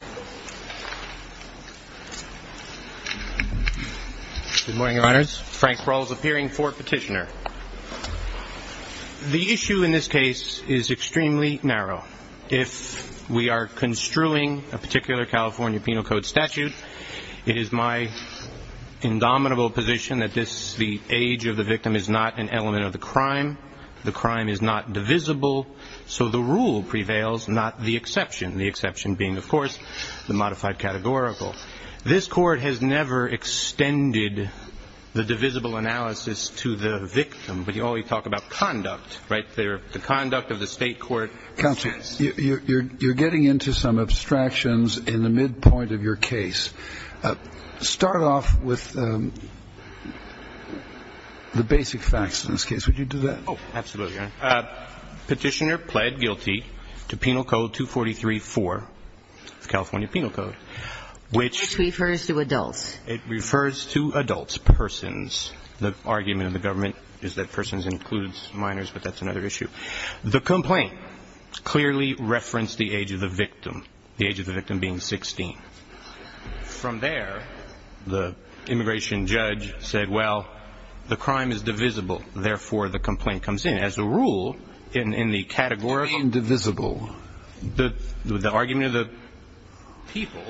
Good morning, Your Honors. Frank Rawls, appearing for petitioner. The issue in this case is extremely narrow. If we are construing a particular California Penal Code statute, it is my indomitable position that this, the age of the victim, is not an element of the crime. The crime is not divisible, so the rule prevails, not the exception. The exception being, of course, the modified categorical. This Court has never extended the divisible analysis to the victim, but you always talk about conduct, right? The conduct of the state court. Counsel, you're getting into some abstractions in the midpoint of your case. Start off with the basic facts in this case. Would you do that? Oh, absolutely, Your Honor. Petitioner pled guilty to Penal Code 243-4, California Penal Code, which refers to adults. It refers to adults, persons. The argument of the government is that persons includes minors, but that's another issue. The complaint clearly referenced the age of the victim, the age of the victim being 16. From there, the immigration judge said, well, the crime is divisible. Therefore, the complaint comes in. As a rule, in the categorical. Why indivisible? The argument of the people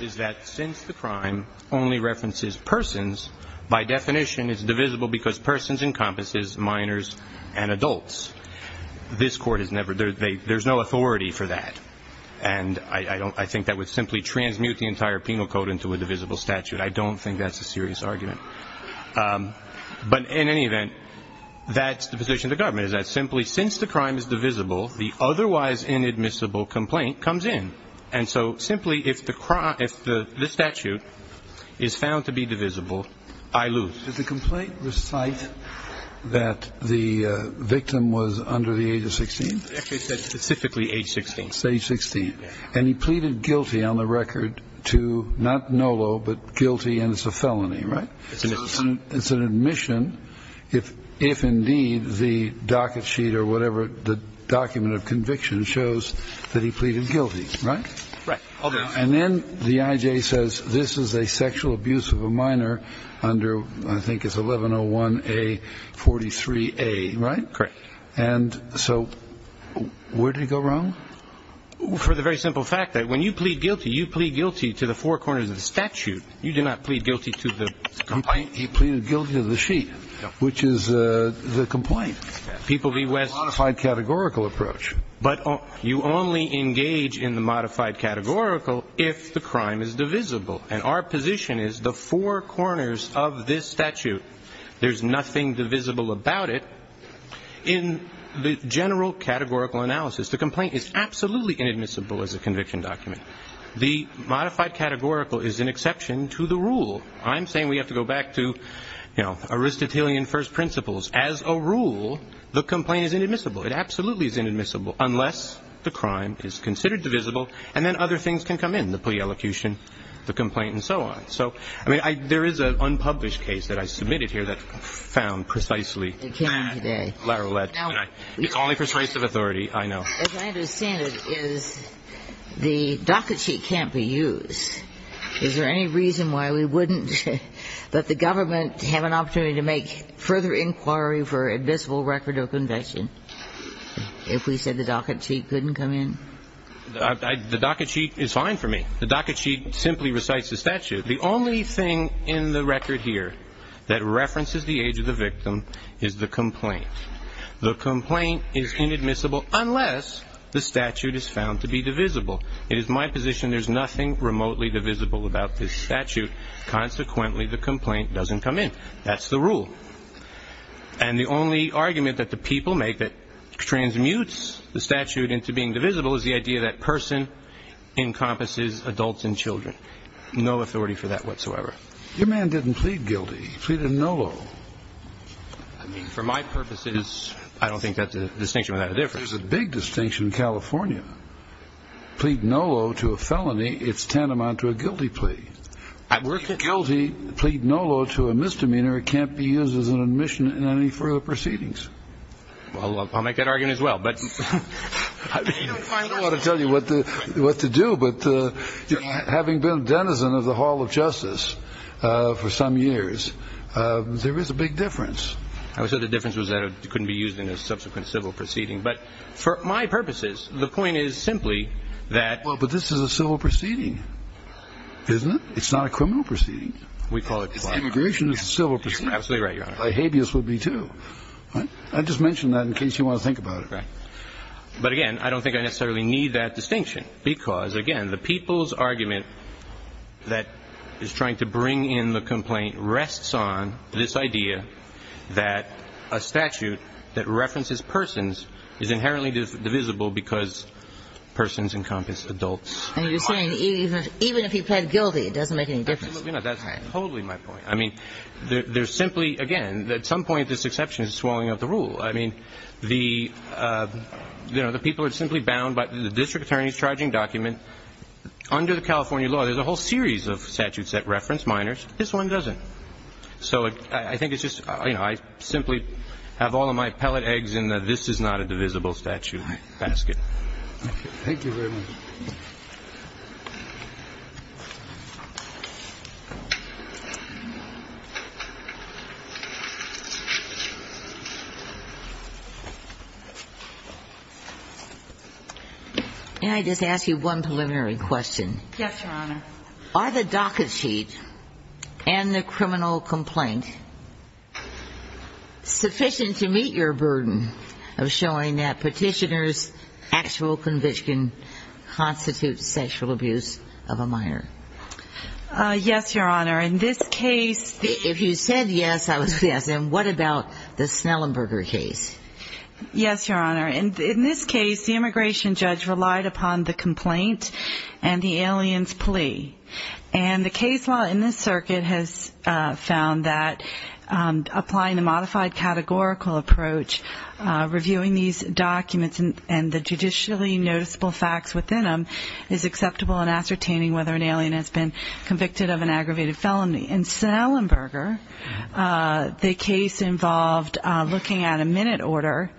is that since the crime only references persons, by definition, it's divisible because persons encompasses minors and adults. This Court has never, there's no authority for that. And I think that would simply transmute the entire Penal Code into a divisible statute. I don't think that's a serious argument. But in any event, that's the position of the government, is that simply since the crime is divisible, the otherwise inadmissible complaint comes in. And so simply, if the statute is found to be divisible, I lose. Did the complaint recite that the victim was under the age of 16? Specifically age 16. Stage 16. And he pleaded guilty on the record to, not NOLO, but guilty and it's a felony, right? It's an admission. It's an admission if indeed the docket sheet or whatever, the document of conviction shows that he pleaded guilty, right? Right. And then the I.J. says this is a sexual abuse of a minor under, I think it's 1101A43A, right? Correct. And so where did he go wrong? For the very simple fact that when you plead guilty, you plead guilty to the four corners of the statute. You do not plead guilty to the complaint. He pleaded guilty to the sheet, which is the complaint. Modified categorical approach. But you only engage in the modified categorical if the crime is divisible. And our position is the four corners of this statute, there's nothing divisible about it. In the general categorical analysis, the complaint is absolutely inadmissible as a conviction document. The modified categorical is an exception to the rule. I'm saying we have to go back to, you know, Aristotelian first principles. As a rule, the complaint is inadmissible. It absolutely is inadmissible unless the crime is considered divisible and then other things can come in, the plea elocution, the complaint, and so on. So, I mean, there is an unpublished case that I submitted here that found precisely that. It came in today. It's only persuasive authority, I know. As I understand it, is the docket sheet can't be used. Is there any reason why we wouldn't let the government have an opportunity to make further inquiry for admissible record of conviction if we said the docket sheet couldn't come in? The docket sheet is fine for me. The docket sheet simply recites the statute. The only thing in the record here that references the age of the victim is the complaint. The complaint is inadmissible unless the statute is found to be divisible. It is my position there's nothing remotely divisible about this statute. Consequently, the complaint doesn't come in. That's the rule. And the only argument that the people make that transmutes the statute into being divisible is the idea that person encompasses adults and children. No authority for that whatsoever. Your man didn't plead guilty. He pleaded NOLO. I mean, for my purposes, I don't think that's a distinction without a difference. There's a big distinction in California. Plead NOLO to a felony, it's tantamount to a guilty plea. If guilty, plead NOLO to a misdemeanor, it can't be used as an admission in any further proceedings. I'll make that argument as well. I don't want to tell you what to do, but having been a denizen of the Hall of Justice for some years, there is a big difference. I would say the difference was that it couldn't be used in a subsequent civil proceeding. But for my purposes, the point is simply that Well, but this is a civil proceeding, isn't it? It's not a criminal proceeding. Immigration is a civil proceeding. You're absolutely right, Your Honor. A habeas would be, too. I just mentioned that in case you want to think about it. But again, I don't think I necessarily need that distinction because, again, the people's argument that is trying to bring in the complaint rests on this idea that a statute that references persons is inherently divisible because persons encompass adults. And you're saying even if you plead guilty, it doesn't make any difference. Absolutely not. That's totally my point. I mean, there's simply, again, at some point this exception is swallowing up the rule. I mean, the people are simply bound by the district attorney's charging document. Under the California law, there's a whole series of statutes that reference minors. This one doesn't. So I think it's just, you know, I simply have all of my pellet eggs in the this-is-not-a-divisible statute basket. Thank you very much. May I just ask you one preliminary question? Yes, Your Honor. Are the docket sheet and the criminal complaint sufficient to meet your burden of showing that petitioners' actual conviction constitutes sexual abuse of a minor? Yes, Your Honor. In this case, the ---- If you said yes, I would say yes. And what about the Snellenberger case? Yes, Your Honor. In this case, the immigration judge relied upon the complaint and the alien's plea. And the case law in this circuit has found that applying a modified categorical approach, reviewing these documents and the judicially noticeable facts within them is acceptable in ascertaining whether an alien has been convicted of an aggravated felony. In Snellenberger, the case involved looking at a minute order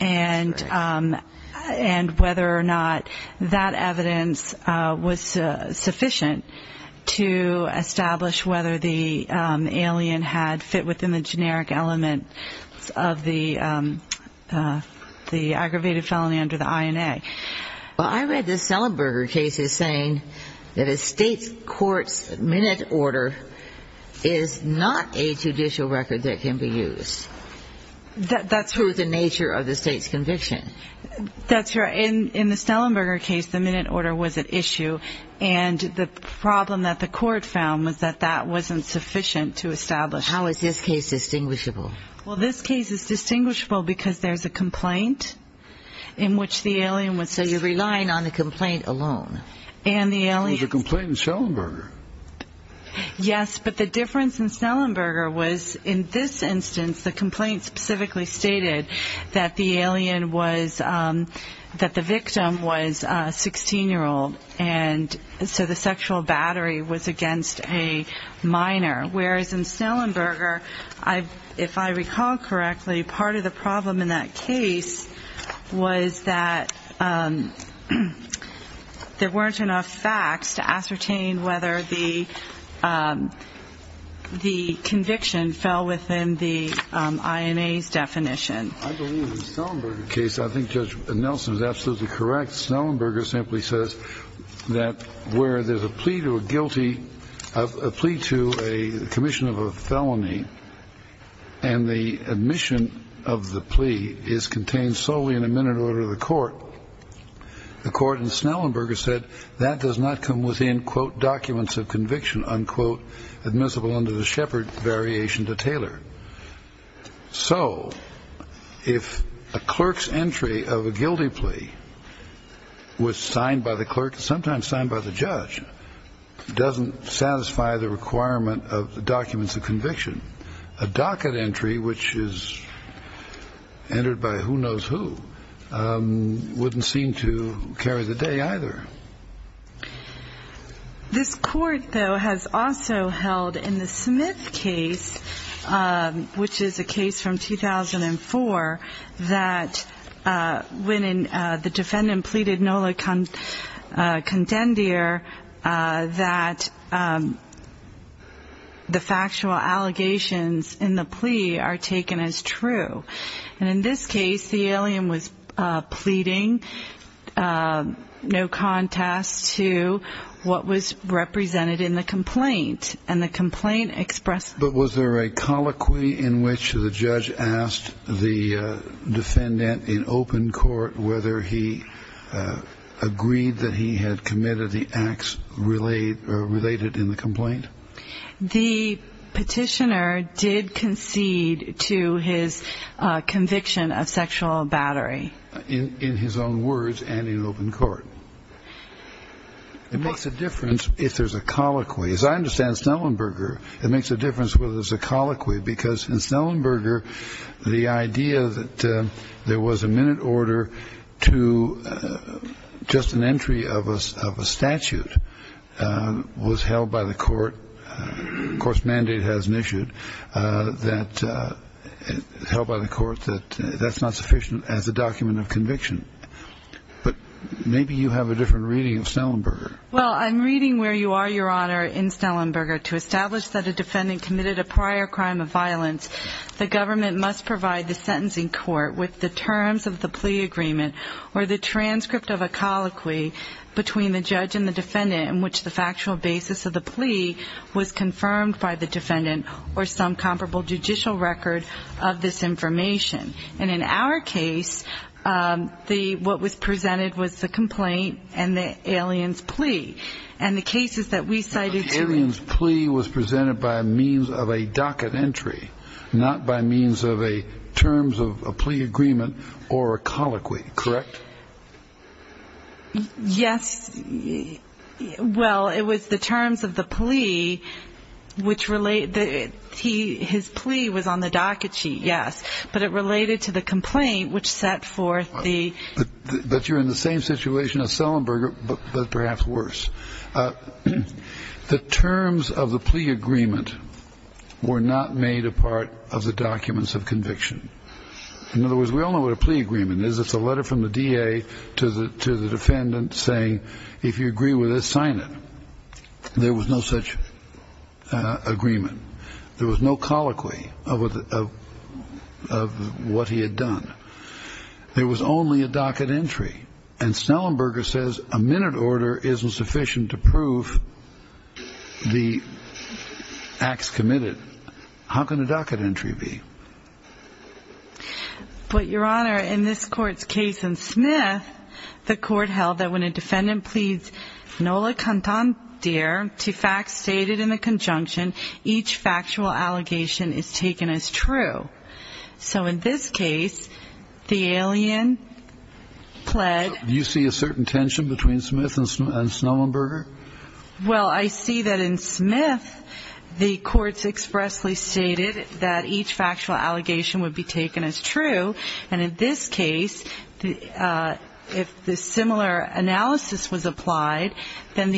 and whether or not that evidence was sufficient to establish whether the alien had fit within the generic element of the aggravated felony under the INA. Well, I read the Snellenberger case as saying that a state court's minute order is not a judicial record that can be used. That's true of the nature of the state's conviction. That's right. In the Snellenberger case, the minute order was at issue. And the problem that the court found was that that wasn't sufficient to establish. How is this case distinguishable? Well, this case is distinguishable because there's a complaint in which the alien was. So you're relying on the complaint alone. And the alien. There was a complaint in Snellenberger. Yes, but the difference in Snellenberger was in this instance, the complaint specifically stated that the victim was a 16-year-old, and so the sexual battery was against a minor. Whereas in Snellenberger, if I recall correctly, part of the problem in that case was that there weren't enough facts to ascertain whether the conviction fell within the INA's definition. I believe in the Snellenberger case, I think Judge Nelson is absolutely correct. Snellenberger simply says that where there's a plea to a guilty, a plea to a commission of a felony, and the admission of the plea is contained solely in a minute order of the court, the court in Snellenberger said that does not come within, quote, documents of conviction, unquote, admissible under the Shepard variation to tailor. So if a clerk's entry of a guilty plea was signed by the clerk, sometimes signed by the judge, doesn't satisfy the requirement of the documents of conviction, a docket entry, which is entered by who knows who, wouldn't seem to carry the day either. This court, though, has also held in the Smith case, which is a case from 2004, that when the defendant pleaded nola contendere, that the factual allegations in the plea are taken as true. And in this case, the alien was pleading no contest to what was represented in the complaint. And the complaint expressed... But was there a colloquy in which the judge asked the defendant in open court whether he agreed that he had committed the acts related in the complaint? The petitioner did concede to his conviction of sexual battery. In his own words and in open court. It makes a difference if there's a colloquy. As I understand Snellenberger, it makes a difference whether there's a colloquy, because in Snellenberger, the idea that there was a minute order to just an entry of a statute was held by the court. Of course, mandate hasn't issued that held by the court that that's not sufficient as a document of conviction. But maybe you have a different reading of Snellenberger. Well, I'm reading where you are, Your Honor, in Snellenberger. To establish that a defendant committed a prior crime of violence, the government must provide the sentencing court with the terms of the plea agreement or the transcript of a colloquy between the judge and the defendant in which the factual basis of the plea was confirmed by the defendant or some comparable judicial record of this information. And in our case, what was presented was the complaint and the alien's plea. And the cases that we cited to it. The alien's plea was presented by means of a docket entry, not by means of a terms of a plea agreement or a colloquy. Correct? Yes. Well, it was the terms of the plea which related. His plea was on the docket sheet, yes. But it related to the complaint which set forth the... But you're in the same situation as Snellenberger, but perhaps worse. The terms of the plea agreement were not made a part of the documents of conviction. In other words, we all know what a plea agreement is. It's a letter from the DA to the defendant saying if you agree with this, sign it. There was no such agreement. There was no colloquy of what he had done. There was only a docket entry. And Snellenberger says a minute order isn't sufficient to prove the acts committed. How can a docket entry be? But, Your Honor, in this court's case in Smith, the court held that when a defendant pleads nola cantandere to facts stated in the conjunction, each factual allegation is taken as true. So in this case, the alien pled... Do you see a certain tension between Smith and Snellenberger? Well, I see that in Smith, the courts expressly stated that each factual allegation would be taken as true. And in this case, if the similar analysis was applied, and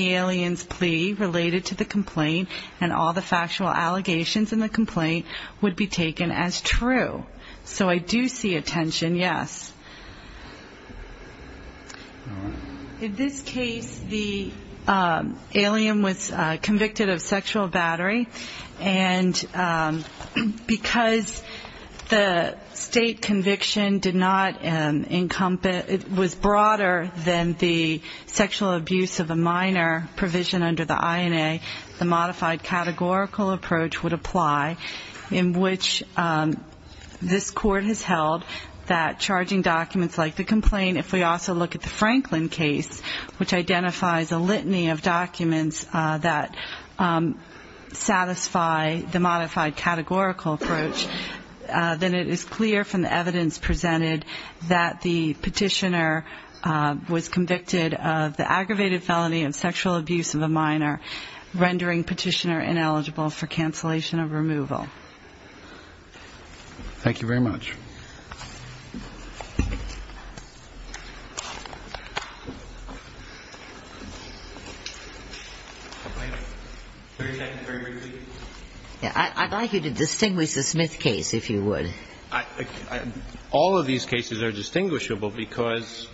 all the factual allegations in the complaint would be taken as true. So I do see a tension, yes. In this case, the alien was convicted of sexual battery. And because the state conviction did not encompass, was broader than the sexual abuse of a minor provision under the INA, the modified categorical approach would apply, in which this court has held that charging documents like the complaint... If we also look at the Franklin case, which identifies a litany of documents that satisfy the modified categorical approach, then it is clear from the evidence presented that the petitioner was convicted of the aggravated felony of sexual abuse of a minor, rendering petitioner ineligible for cancellation of removal. Thank you very much. I'd like you to distinguish the Smith case, if you would. All of these cases are distinguishable because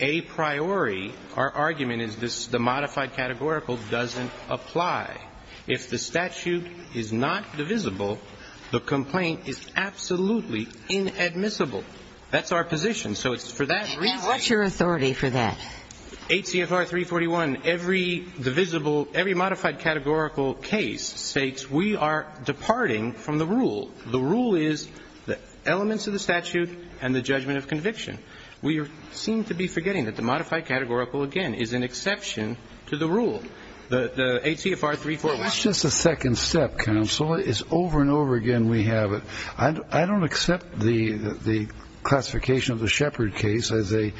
a priori, our argument is this, the modified categorical doesn't apply. If the statute is not divisible, the complaint is absolutely inadmissible. That's our position. So it's for that reason. What's your authority for that? HCFR 341, every divisible, every modified categorical case states we are departing from the rule. The rule is the elements of the statute and the judgment of conviction. We seem to be forgetting that the modified categorical, again, is an exception to the rule. The HCFR 341. That's just a second step, counsel. It's over and over again we have it. I don't accept the classification of the Shepard case as an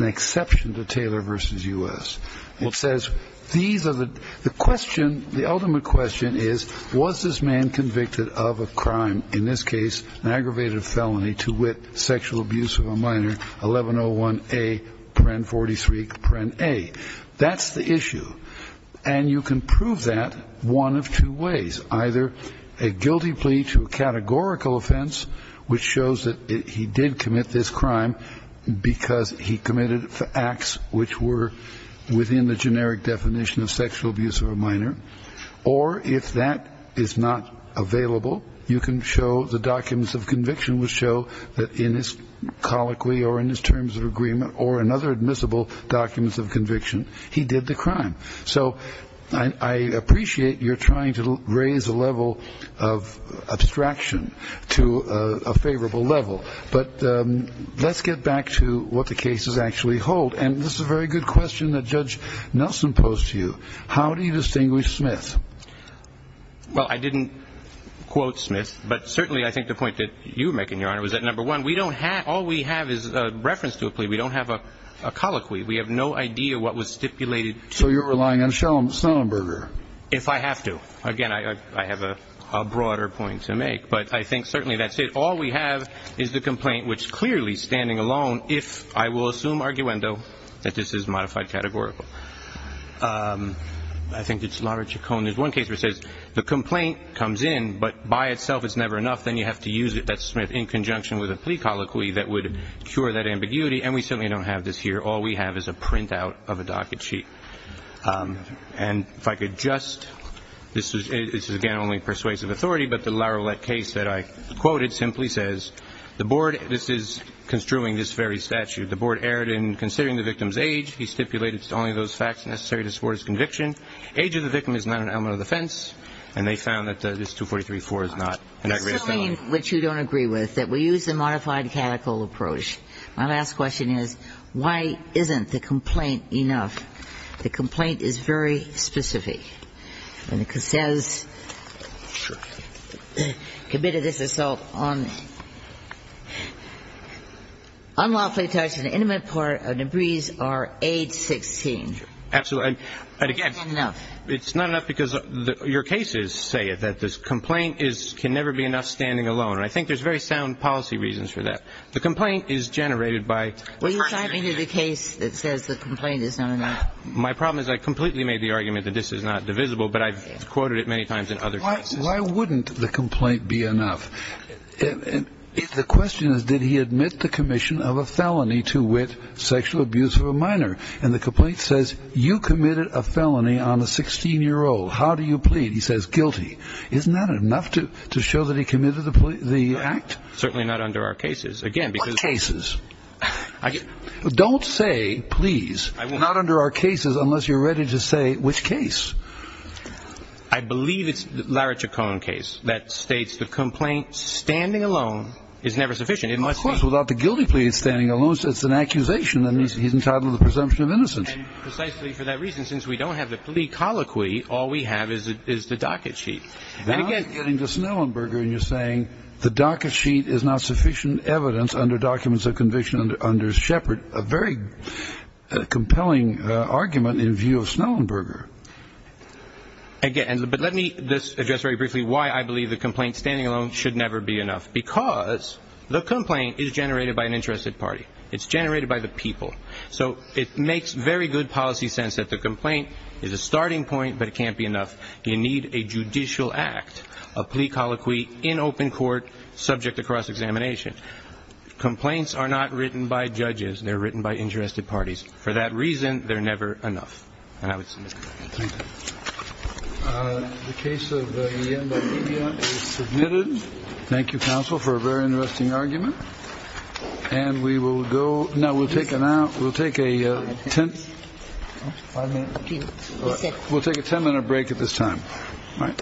exception to Taylor v. U.S. It says these are the question, the ultimate question is, was this man convicted of a crime, in this case an aggravated felony to wit, sexual abuse of a minor, 1101A.43.A. That's the issue. And you can prove that one of two ways. Either a guilty plea to a categorical offense, which shows that he did commit this crime because he committed acts which were within the generic definition of sexual abuse of a minor. Or if that is not available, you can show the documents of conviction which show that in his colloquy or in his terms of agreement or in other admissible documents of conviction, he did the crime. So I appreciate you're trying to raise the level of abstraction to a favorable level. But let's get back to what the cases actually hold. And this is a very good question that Judge Nelson posed to you. How do you distinguish Smith? Well, I didn't quote Smith. But certainly I think the point that you're making, Your Honor, was that, number one, all we have is a reference to a plea. We don't have a colloquy. We have no idea what was stipulated. So you're relying on Schellenberger. If I have to. Again, I have a broader point to make. But I think certainly that's it. All we have is the complaint, which clearly, standing alone, if I will assume arguendo, that this is modified categorical. I think it's Lara Chacon. There's one case where it says the complaint comes in, but by itself it's never enough. Then you have to use it, that's Smith, in conjunction with a plea colloquy that would cure that ambiguity. And we certainly don't have this here. All we have is a printout of a docket sheet. And if I could just, this is, again, only persuasive authority, but the Lara case that I quoted simply says the board, this is construing this very statute, the board erred in considering the victim's age. He stipulated it's only those facts necessary to support his conviction. Age of the victim is not an element of defense. And they found that this 243-4 is not an aggravated felony. This is something which you don't agree with, that we use the modified categorical approach. My last question is, why isn't the complaint enough? The complaint is very specific. And it says, committed this assault on unlawfully touched and intimate part of DeBris are age 16. Absolutely. And again, it's not enough because your cases say that this complaint can never be enough standing alone. And I think there's very sound policy reasons for that. The complaint is generated by the person. Well, you're talking to the case that says the complaint is not enough. My problem is I completely made the argument that this is not divisible, but I've quoted it many times in other cases. Why wouldn't the complaint be enough? The question is, did he admit the commission of a felony to wit, sexual abuse of a minor? And the complaint says, you committed a felony on a 16-year-old. How do you plead? He says, guilty. Isn't that enough to show that he committed the act? Certainly not under our cases. What cases? Don't say please. Not under our cases unless you're ready to say which case. I believe it's the Larich-O'Conn case that states the complaint standing alone is never sufficient. Of course, without the guilty plea standing alone, it's an accusation, and he's entitled to the presumption of innocence. And precisely for that reason, since we don't have the plea colloquy, all we have is the docket sheet. Now I'm getting to Snellenberger, and you're saying the docket sheet is not sufficient evidence under documents of conviction under Shepard, a very compelling argument in view of Snellenberger. But let me address very briefly why I believe the complaint standing alone should never be enough, because the complaint is generated by an interested party. It's generated by the people. So it makes very good policy sense that the complaint is a starting point, but it can't be enough. You need a judicial act, a plea colloquy in open court, subject to cross-examination. Complaints are not written by judges. They're written by interested parties. For that reason, they're never enough. And I would submit that. Thank you. The case of Iemba Media is submitted. Thank you, counsel, for a very interesting argument. We'll take a ten-minute break at this time. All right.